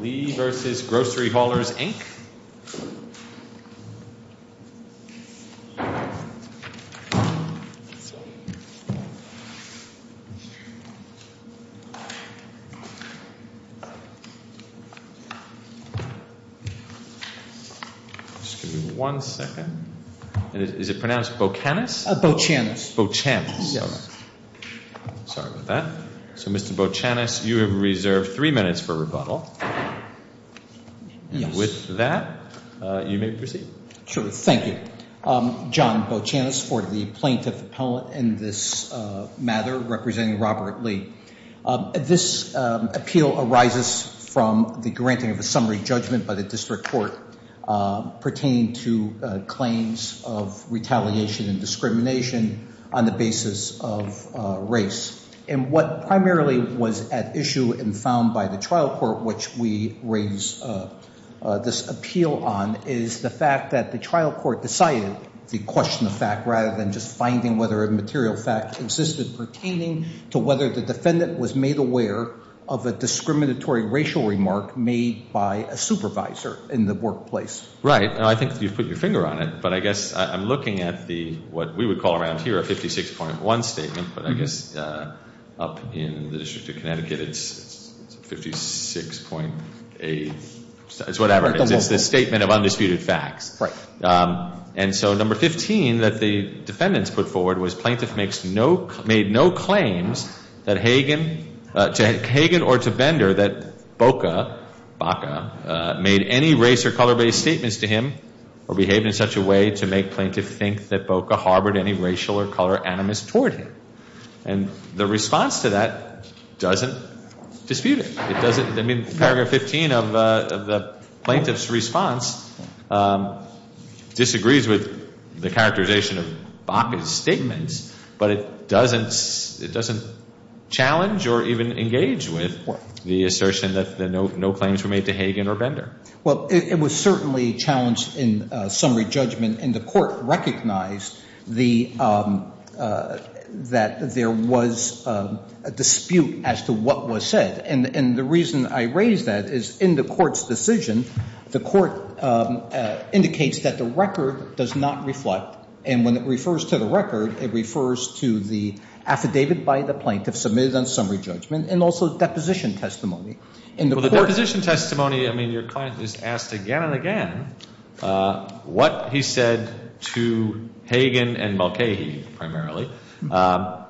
Lee v. Grocery Haulers, Inc. Mr. Bocanis, you have reserved three minutes for rebuttal. With that, you may proceed. Sure. Thank you. John Bocanis for the plaintiff appellate in this matter, representing Robert Lee. This appeal arises from the granting of a summary judgment by the district court pertaining to claims of retaliation and discrimination on the basis of race. And what primarily was at issue and found by the trial court, which we raise this appeal on, is the fact that the trial court decided to question the fact rather than just finding whether a material fact existed pertaining to whether the defendant was made aware of a discriminatory racial remark made by a supervisor in the workplace. Right. And I think you've put your finger on it, but I guess I'm looking at what we would call around here a 56.1 statement, but I guess up in the District of Connecticut it's 56.8. It's whatever. It's the statement of undisputed facts. Right. And so number 15 that the defendants put forward was plaintiff made no claims to Hagen or to Bender that Boca made any race or color-based statements to him or behaved in such a way to make plaintiff think that Boca harbored any racial or color animus toward him. And the response to that doesn't dispute it. I mean, paragraph 15 of the plaintiff's response disagrees with the characterization of Boca's statements, but it doesn't challenge or even engage with the assertion that no claims were made to Hagen or Bender. Well, it was certainly challenged in summary judgment, and the court recognized that there was a dispute as to what was said. And the reason I raise that is in the court's decision, the court indicates that the record does not reflect, and when it refers to the record, it refers to the affidavit by the plaintiff submitted on summary judgment and also deposition testimony. Well, the deposition testimony, I mean, your client just asked again and again what he said to Hagen and Mulcahy primarily,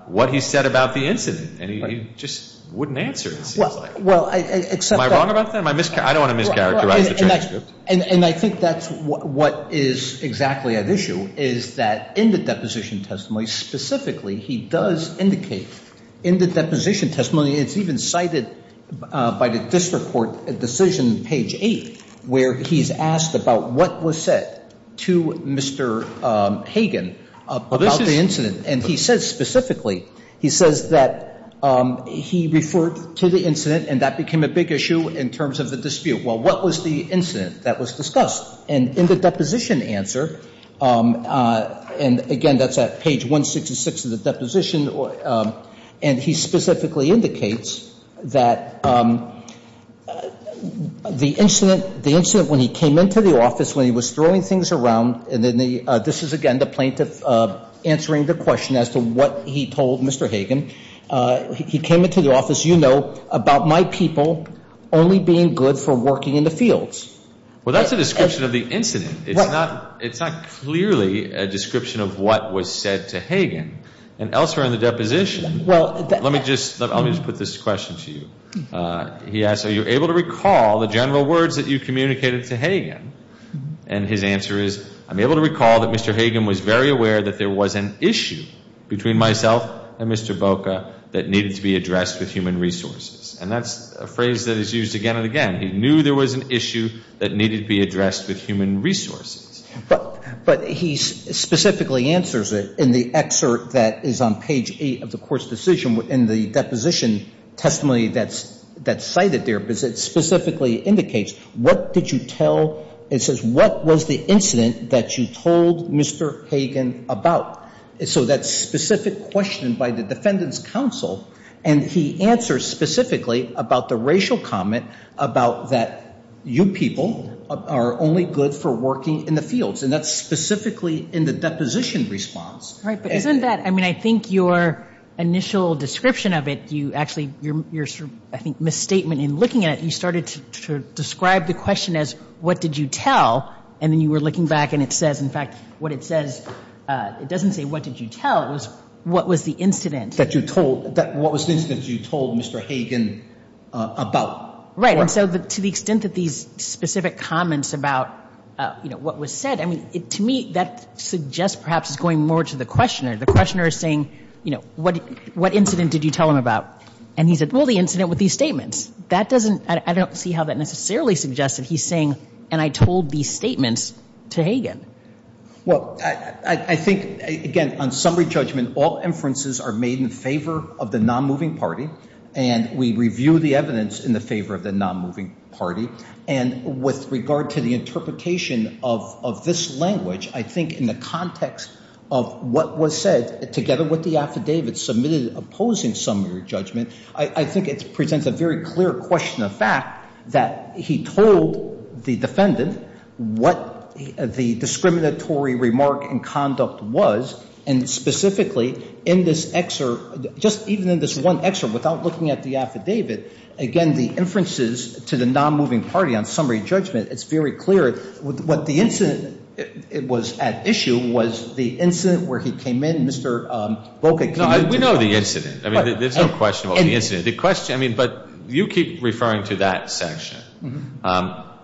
what he said about the incident. And he just wouldn't answer, it seems like. Well, I accept that. Am I wrong about that? Am I mischaracterizing? And I think that's what is exactly at issue, is that in the deposition testimony, specifically, he does indicate in the deposition testimony, it's even cited by the district court decision page 8, where he's asked about what was said to Mr. Hagen about the incident. And he says specifically, he says that he referred to the incident, and that became a big issue in terms of the dispute. Well, what was the incident that was discussed? And in the deposition answer, and again, that's at page 166 of the deposition, and he specifically indicates that the incident, the incident when he came into the office, when he was throwing things around, and then the — this is, again, the plaintiff answering the question, as to what he told Mr. Hagen, he came into the office, you know, about my people only being good for working in the fields. Well, that's a description of the incident. It's not clearly a description of what was said to Hagen. And elsewhere in the deposition, let me just put this question to you. He asked, are you able to recall the general words that you communicated to Hagen? And his answer is, I'm able to recall that Mr. Hagen was very aware that there was an issue between myself and Mr. Boca that needed to be addressed with human resources. And that's a phrase that is used again and again. He knew there was an issue that needed to be addressed with human resources. But he specifically answers it in the excerpt that is on page 8 of the court's decision in the deposition testimony that's cited there, because it specifically indicates, what did you tell — it says, what was the incident that you told Mr. Hagen about? So that's a specific question by the defendant's counsel. And he answers specifically about the racial comment about that you people are only good for working in the fields. And that's specifically in the deposition response. Right. But isn't that — I mean, I think your initial description of it, you actually — your, I think, misstatement in looking at it, you started to describe the question as, what did you tell? And then you were looking back, and it says, in fact, what it says — it doesn't say, what did you tell? It was, what was the incident — That you told — what was the incident that you told Mr. Hagen about? Right. And so to the extent that these specific comments about, you know, what was said, I mean, to me, that suggests perhaps it's going more to the questioner. The questioner is saying, you know, what incident did you tell him about? And he said, well, the incident with these statements. That doesn't — I don't see how that necessarily suggests that he's saying, and I told these statements to Hagen. Well, I think, again, on summary judgment, all inferences are made in favor of the nonmoving party. And we review the evidence in the favor of the nonmoving party. And with regard to the interpretation of this language, I think in the context of what was said, together with the affidavit submitted opposing summary judgment, I think it presents a very clear question of fact that he told the defendant what the discriminatory remark in conduct was. And specifically, in this excerpt, just even in this one excerpt, without looking at the affidavit, again, the inferences to the nonmoving party on summary judgment, it's very clear. What the incident was at issue was the incident where he came in, Mr. Boca came in — I mean, but you keep referring to that section.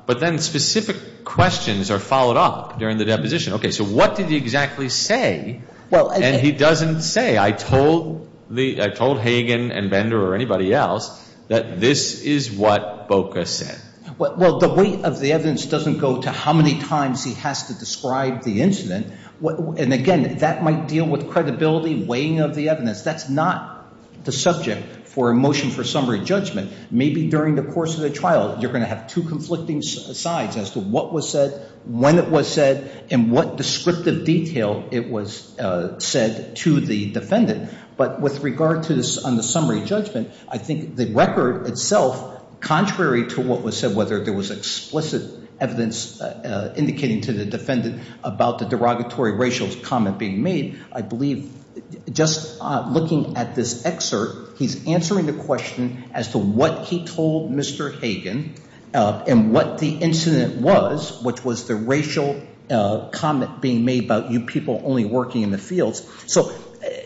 But then specific questions are followed up during the deposition. Okay, so what did he exactly say? And he doesn't say, I told Hagen and Bender or anybody else that this is what Boca said. Well, the weight of the evidence doesn't go to how many times he has to describe the incident. And, again, that might deal with credibility, weighing of the evidence. That's not the subject for a motion for summary judgment. Maybe during the course of the trial you're going to have two conflicting sides as to what was said, when it was said, and what descriptive detail it was said to the defendant. But with regard to the summary judgment, I think the record itself, contrary to what was said, whether there was explicit evidence indicating to the defendant about the derogatory racial comment being made, I believe just looking at this excerpt, he's answering the question as to what he told Mr. Hagen and what the incident was, which was the racial comment being made about you people only working in the fields. So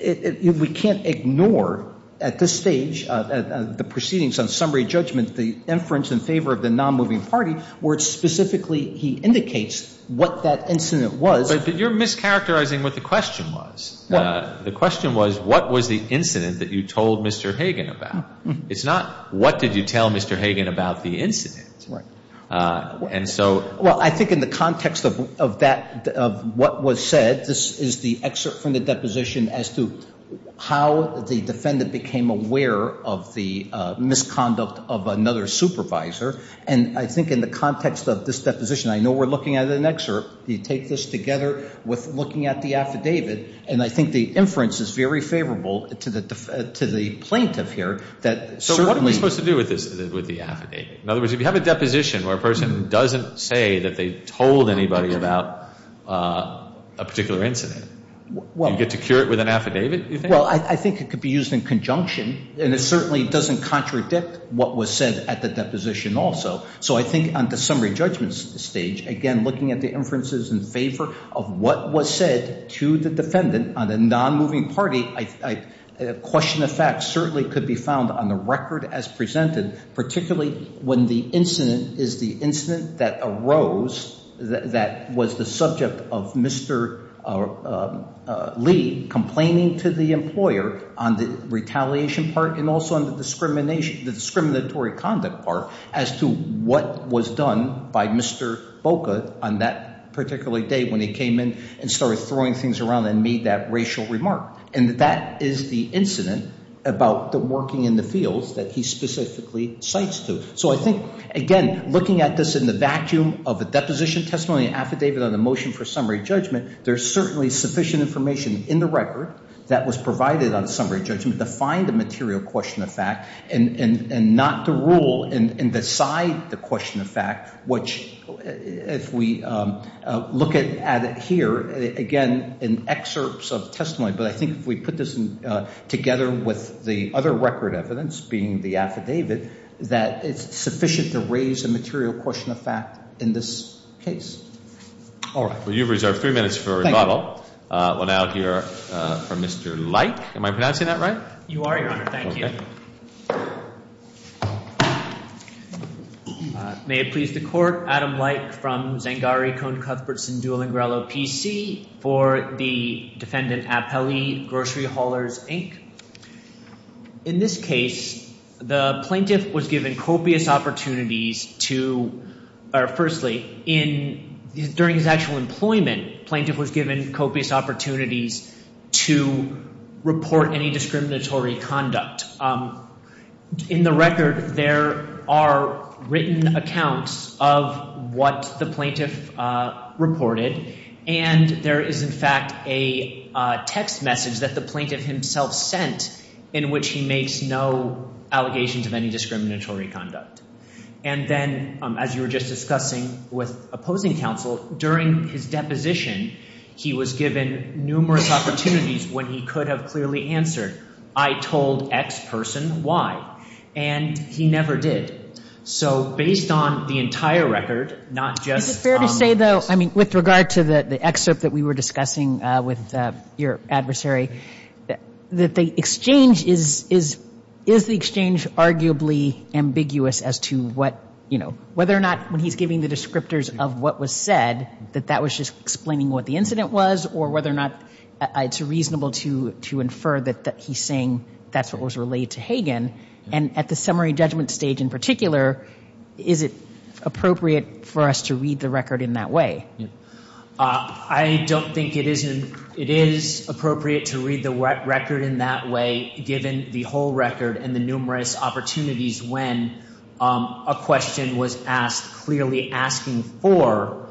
we can't ignore at this stage the proceedings on summary judgment, the inference in favor of the non-moving party where specifically he indicates what that incident was. But you're mischaracterizing what the question was. The question was what was the incident that you told Mr. Hagen about. It's not what did you tell Mr. Hagen about the incident. Right. And so. Well, I think in the context of that, of what was said, this is the excerpt from the deposition as to how the defendant became aware of the misconduct of another supervisor. And I think in the context of this deposition, I know we're looking at an excerpt. You take this together with looking at the affidavit. And I think the inference is very favorable to the plaintiff here. So what are we supposed to do with this, with the affidavit? In other words, if you have a deposition where a person doesn't say that they told anybody about a particular incident, you get to cure it with an affidavit, you think? Well, I think it could be used in conjunction. And it certainly doesn't contradict what was said at the deposition also. So I think on the summary judgment stage, again, looking at the inferences in favor of what was said to the defendant on a non-moving party, question of fact certainly could be found on the record as presented, particularly when the incident is the incident that arose that was the subject of Mr. Lee complaining to the employer on the retaliation part and also on the discriminatory conduct part as to what was done by Mr. Boca on that particular day when he came in and started throwing things around and made that racial remark. And that is the incident about the working in the fields that he specifically cites to. So I think, again, looking at this in the vacuum of a deposition testimony, affidavit, and a motion for summary judgment, there's certainly sufficient information in the record that was provided on the summary judgment to find the material question of fact and not to rule and decide the question of fact, which if we look at it here, again, in excerpts of testimony, but I think if we put this together with the other record evidence, being the affidavit, that it's sufficient to raise the material question of fact in this case. All right. Well, you've reserved three minutes for a rebuttal. Thank you. We'll now hear from Mr. Leik. Am I pronouncing that right? You are, Your Honor. Thank you. Okay. May it please the Court. Adam Leik from Zangari-Cone-Cuthbertson-Dulingrello PC for the Defendant Appellee, Grocery Haulers, Inc. In this case, the plaintiff was given copious opportunities to – or firstly, during his actual employment, the plaintiff was given copious opportunities to report any discriminatory conduct. In the record, there are written accounts of what the plaintiff reported, and there is, in fact, a text message that the plaintiff himself sent in which he makes no allegations of any discriminatory conduct. And then, as you were just discussing with opposing counsel, during his deposition, he was given numerous opportunities when he could have clearly answered, I told X person Y. And he never did. So based on the entire record, not just on this. Is it fair to say, though, I mean, with regard to the excerpt that we were discussing with your adversary, that the exchange is – is the exchange arguably ambiguous as to what, you know, whether or not when he's giving the descriptors of what was said, that that was just explaining what the incident was, or whether or not it's reasonable to infer that he's saying that's what was relayed to Hagen. And at the summary judgment stage in particular, is it appropriate for us to read the record in that way? I don't think it is appropriate to read the record in that way, given the whole record and the numerous opportunities when a question was asked, clearly asking for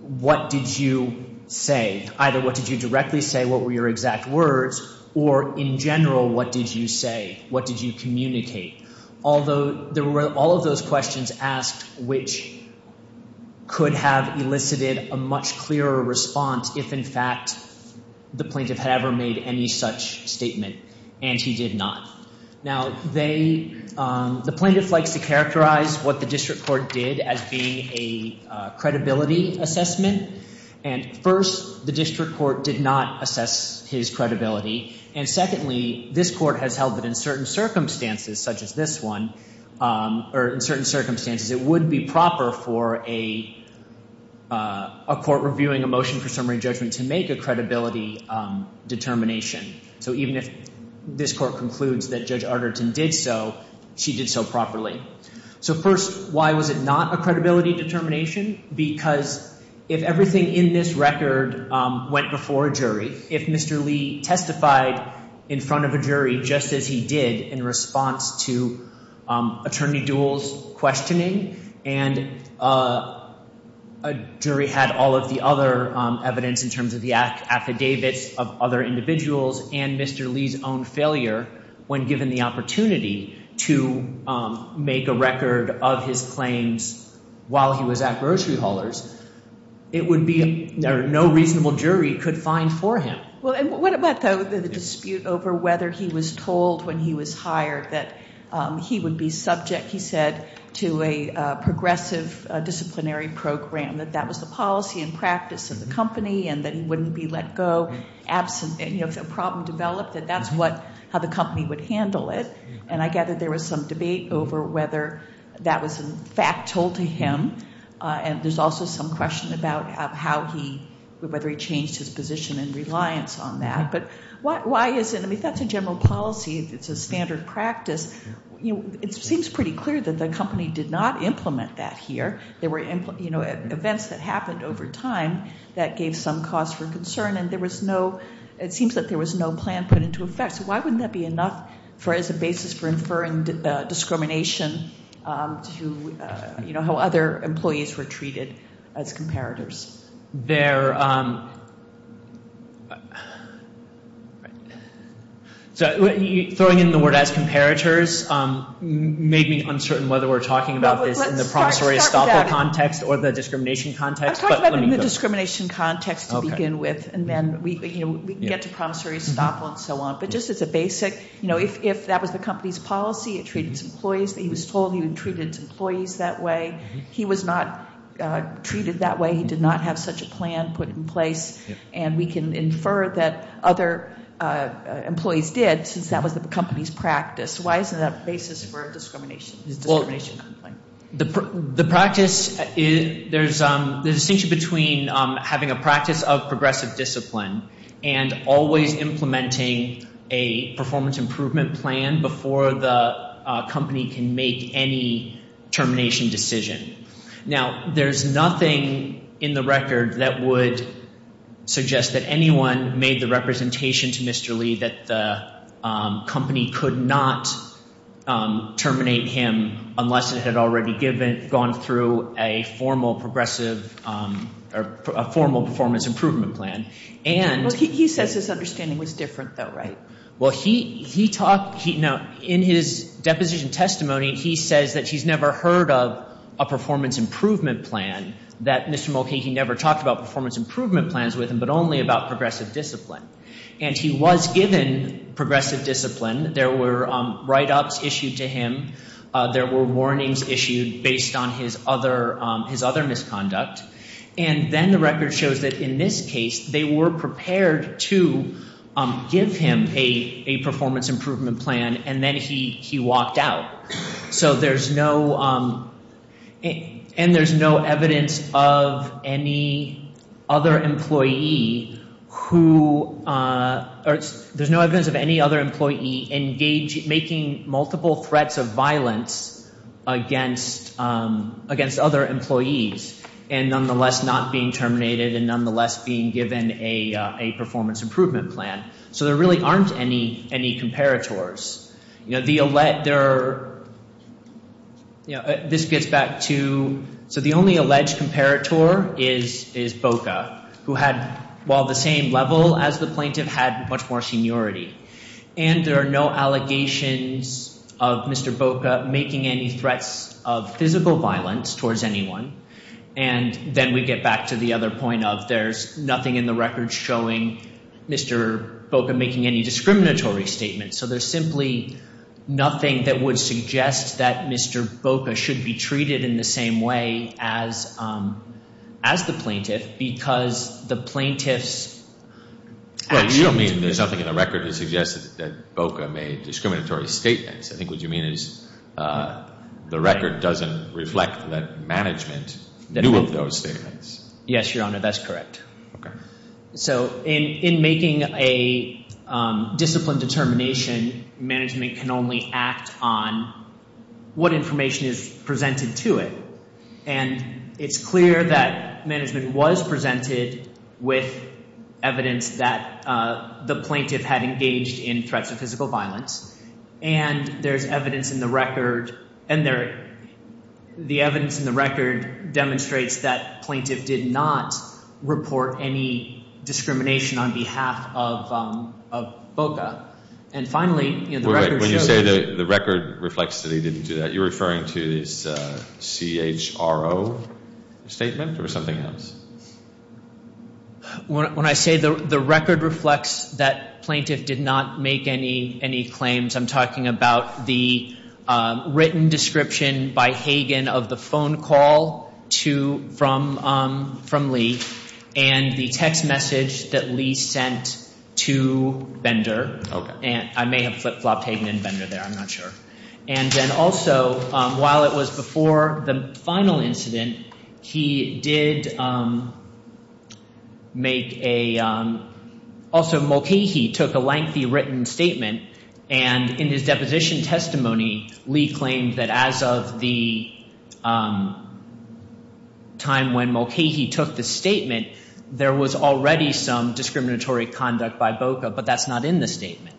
what did you say? Either what did you directly say, what were your exact words? Or in general, what did you say? What did you communicate? Although there were all of those questions asked, which could have elicited a much clearer response if, in fact, the plaintiff had ever made any such statement, and he did not. Now, they – the plaintiff likes to characterize what the district court did as being a credibility assessment. And first, the district court did not assess his credibility. And secondly, this court has held that in certain circumstances, such as this one, or in certain circumstances, it would be proper for a court reviewing a motion for summary judgment to make a credibility determination. So even if this court concludes that Judge Arterton did so, she did so properly. So first, why was it not a credibility determination? Because if everything in this record went before a jury, if Mr. Lee testified in front of a jury, just as he did in response to Attorney Dewell's questioning, and a jury had all of the other evidence in terms of the affidavits of other individuals and Mr. Lee's own failure when given the opportunity to make a record of his claims while he was at grocery haulers, it would be – no reasonable jury could find for him. What about the dispute over whether he was told when he was hired that he would be subject, he said, to a progressive disciplinary program, that that was the policy and practice of the company, and that he wouldn't be let go if a problem developed, that that's how the company would handle it. And I gather there was some debate over whether that was, in fact, told to him. And there's also some question about how he – whether he changed his position in reliance on that. But why is it – I mean, that's a general policy. It's a standard practice. It seems pretty clear that the company did not implement that here. There were events that happened over time that gave some cause for concern, and there was no – it seems that there was no plan put into effect. So why wouldn't that be enough as a basis for inferring discrimination to how other employees were treated as comparators? There – so throwing in the word as comparators made me uncertain whether we're talking about this in the promissory estoppel context or the discrimination context. Let's talk about it in the discrimination context to begin with, and then we can get to promissory estoppel and so on. But just as a basic – you know, if that was the company's policy, it treated its employees the way it was told, it treated its employees that way. He was not treated that way. He did not have such a plan put in place. And we can infer that other employees did since that was the company's practice. Why isn't that a basis for discrimination? Well, the practice – there's a distinction between having a practice of progressive discipline and always implementing a performance improvement plan before the company can make any termination decision. Now, there's nothing in the record that would suggest that anyone made the representation to Mr. Lee that the company could not terminate him unless it had already given – to a formal progressive – or a formal performance improvement plan. And – Well, he says his understanding was different, though, right? Well, he talked – in his deposition testimony, he says that he's never heard of a performance improvement plan, that Mr. Mulcahy never talked about performance improvement plans with him, but only about progressive discipline. And he was given progressive discipline. There were write-ups issued to him. There were warnings issued based on his other misconduct. And then the record shows that in this case, they were prepared to give him a performance improvement plan, and then he walked out. So there's no – and there's no evidence of any other employee who – against other employees and nonetheless not being terminated and nonetheless being given a performance improvement plan. So there really aren't any comparators. You know, the – there are – you know, this gets back to – so the only alleged comparator is Boca, who had, while the same level as the plaintiff, had much more seniority. And there are no allegations of Mr. Boca making any threats of physical violence towards anyone. And then we get back to the other point of there's nothing in the record showing Mr. Boca making any discriminatory statements. So there's simply nothing that would suggest that Mr. Boca should be treated in the same way as the plaintiff because the plaintiff's actions – it doesn't suggest that Boca made discriminatory statements. I think what you mean is the record doesn't reflect that management knew of those statements. Yes, Your Honor, that's correct. Okay. So in making a discipline determination, management can only act on what information is presented to it. And it's clear that management was presented with evidence that the plaintiff had engaged in threats of physical violence. And there's evidence in the record – and there – the evidence in the record demonstrates that plaintiff did not report any discrimination on behalf of Boca. And finally, you know, the record shows – statement or something else? When I say the record reflects that plaintiff did not make any claims, I'm talking about the written description by Hagen of the phone call to – from Lee and the text message that Lee sent to Bender. Okay. And I may have flip-flopped Hagen and Bender there. I'm not sure. And then also, while it was before the final incident, he did make a – also Mulcahy took a lengthy written statement. And in his deposition testimony, Lee claimed that as of the time when Mulcahy took the statement, there was already some discriminatory conduct by Boca. But that's not in the statement.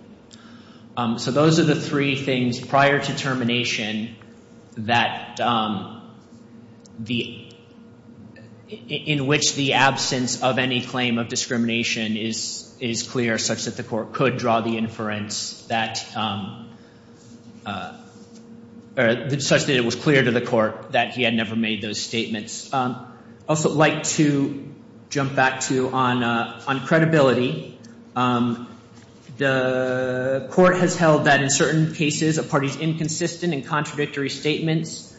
So those are the three things prior to termination that the – in which the absence of any claim of discrimination is clear, such that the court could draw the inference that – or such that it was clear to the court that he had never made those statements. I'd also like to jump back to – on credibility. The court has held that in certain cases, a party's inconsistent and contradictory statements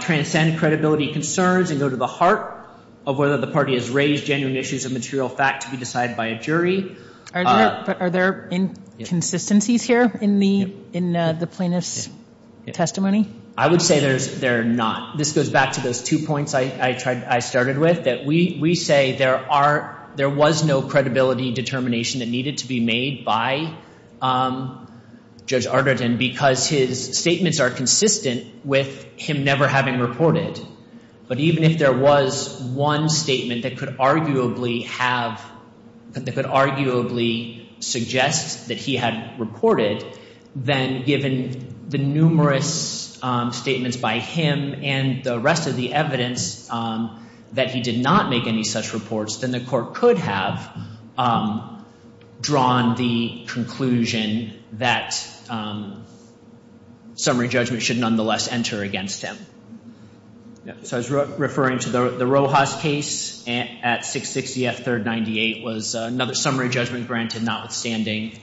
transcend credibility concerns and go to the heart of whether the party has raised genuine issues of material fact to be decided by a jury. Are there inconsistencies here in the plaintiff's testimony? I would say there's – there are not. This goes back to those two points I tried – I started with, that we say there are – there was no credibility determination that needed to be made by Judge Arderton because his statements are consistent with him never having reported. But even if there was one statement that could arguably have – that could arguably suggest that he had reported, then given the numerous statements by him and the rest of the evidence that he did not make any such reports, then the court could have drawn the conclusion that summary judgment should nonetheless enter against him. So I was referring to the Rojas case at 660 F. 3rd, 98 was another summary judgment granted notwithstanding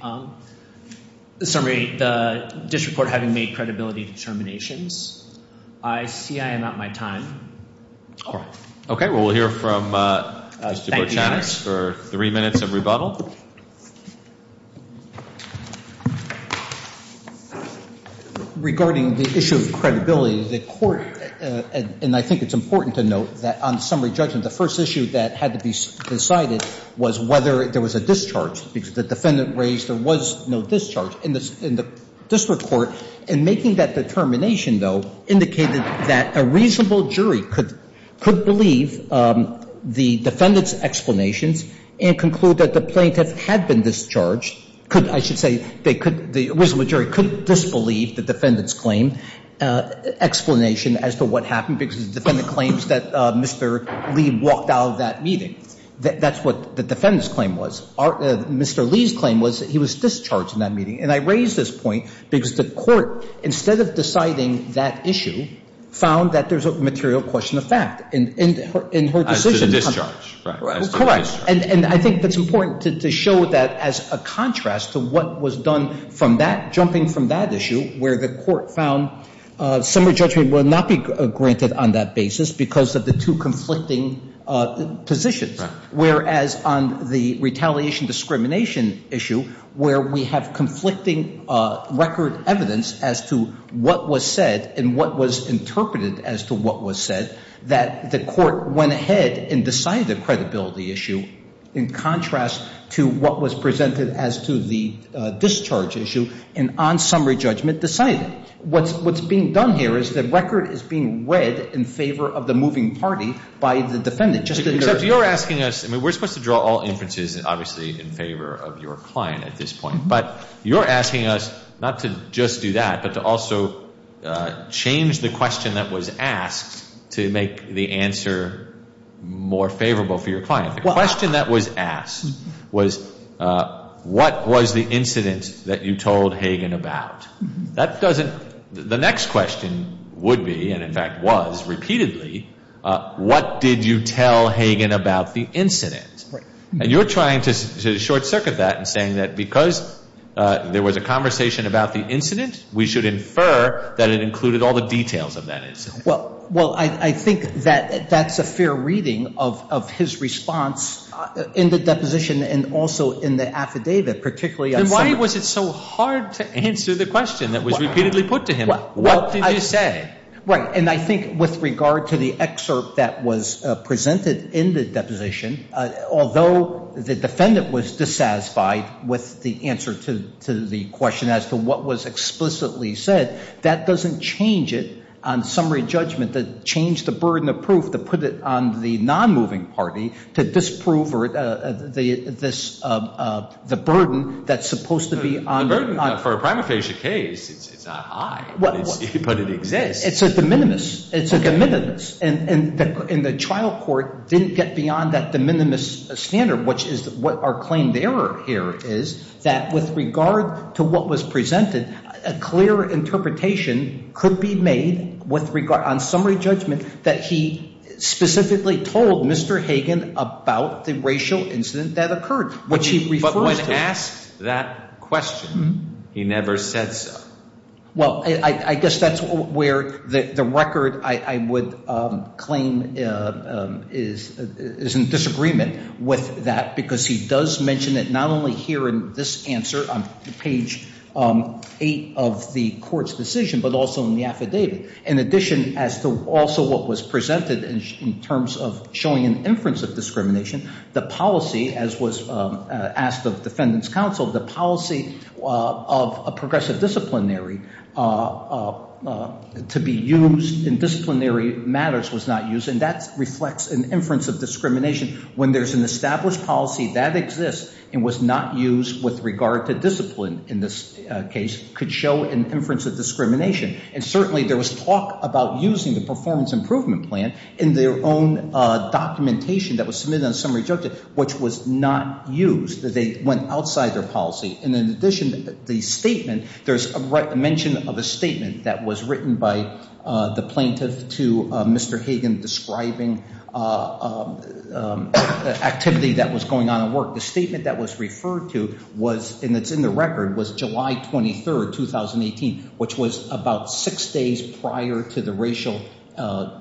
the summary – the district court having made credibility determinations. I see I am out of my time. All right. Okay. Well, we'll hear from Mr. Berchanitz for three minutes of rebuttal. Regarding the issue of credibility, the court – and I think it's important to note that on summary judgment, the first issue that had to be decided was whether there was a discharge. Because the defendant raised there was no discharge in the district court. And making that determination, though, indicated that a reasonable jury could believe the defendant's explanations and conclude that the plaintiff had been discharged. I should say they could – the reasonable jury could disbelieve the defendant's claim explanation as to what happened because the defendant claims that Mr. Lee walked out of that meeting. That's what the defendant's claim was. Mr. Lee's claim was that he was discharged in that meeting. And I raise this point because the court, instead of deciding that issue, found that there's a material question of fact in her decision. As to discharge. Correct. And I think it's important to show that as a contrast to what was done from that – jumping from that issue where the court found summary judgment would not be granted on that basis because of the two conflicting positions. Whereas on the retaliation discrimination issue, where we have conflicting record evidence as to what was said and what was interpreted as to what was said, that the court went ahead and decided the credibility issue in contrast to what was presented as to the discharge issue and on summary judgment decided. What's being done here is the record is being read in favor of the moving party by the defendant. Except you're asking us – I mean, we're supposed to draw all inferences, obviously, in favor of your client at this point. But you're asking us not to just do that, but to also change the question that was asked to make the answer more favorable for your client. The question that was asked was, what was the incident that you told Hagen about? That doesn't – the next question would be, and in fact was repeatedly, what did you tell Hagen about the incident? And you're trying to short circuit that and saying that because there was a conversation about the incident, we should infer that it included all the details of that incident. Well, I think that that's a fair reading of his response in the deposition and also in the affidavit, particularly on summary. Then why was it so hard to answer the question that was repeatedly put to him? What did you say? Right, and I think with regard to the excerpt that was presented in the deposition, although the defendant was dissatisfied with the answer to the question as to what was explicitly said, that doesn't change it on summary judgment. That changed the burden of proof to put it on the non-moving party to disprove the burden that's supposed to be on – The burden for a prima facie case, it's not high, but it exists. It's a de minimis. It's a de minimis, and the trial court didn't get beyond that de minimis standard, which is what our claim there here is that with regard to what was presented, a clear interpretation could be made with regard – on summary judgment that he specifically told Mr. Hagen about the racial incident that occurred, which he refers to. But when asked that question, he never said so. Well, I guess that's where the record I would claim is in disagreement with that because he does mention it not only here in this answer on page 8 of the court's decision but also in the affidavit. In addition as to also what was presented in terms of showing an inference of discrimination, the policy as was asked of defendants' counsel, the policy of a progressive disciplinary to be used in disciplinary matters was not used, and that reflects an inference of discrimination when there's an established policy that exists and was not used with regard to discipline in this case could show an inference of discrimination. And certainly there was talk about using the performance improvement plan in their own documentation that was submitted on summary judgment, which was not used. They went outside their policy. And in addition, the statement – there's a mention of a statement that was written by the plaintiff to Mr. Hagen describing activity that was going on at work. The statement that was referred to was – and it's in the record – was July 23, 2018, which was about six days prior to the racial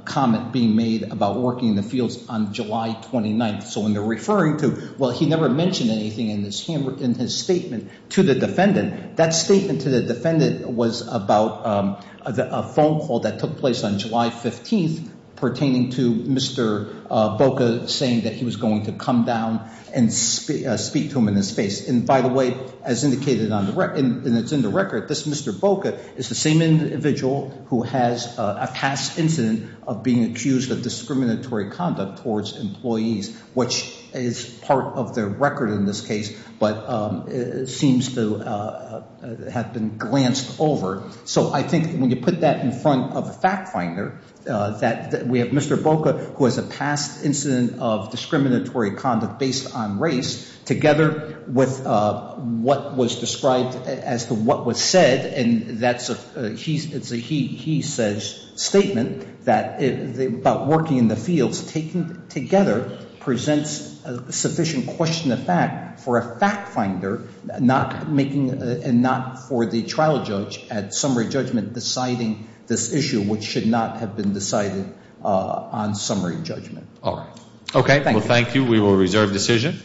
comment being made about working in the fields on July 29. So when they're referring to – well, he never mentioned anything in his statement to the defendant. That statement to the defendant was about a phone call that took place on July 15th pertaining to Mr. Boca saying that he was going to come down and speak to him in his face. And by the way, as indicated on the – and it's in the record, this Mr. Boca is the same individual who has a past incident of being accused of discriminatory conduct towards employees, which is part of their record in this case but seems to have been glanced over. So I think when you put that in front of a fact finder, that we have Mr. Boca, who has a past incident of discriminatory conduct based on race, together with what was described as to what was said, and that's a – it's a he says statement about working in the fields taken together presents a sufficient question of fact for a fact finder, not making – and not for the trial judge at summary judgment deciding this issue, which should not have been decided on summary judgment. All right. Okay. Well, thank you. We will reserve decision.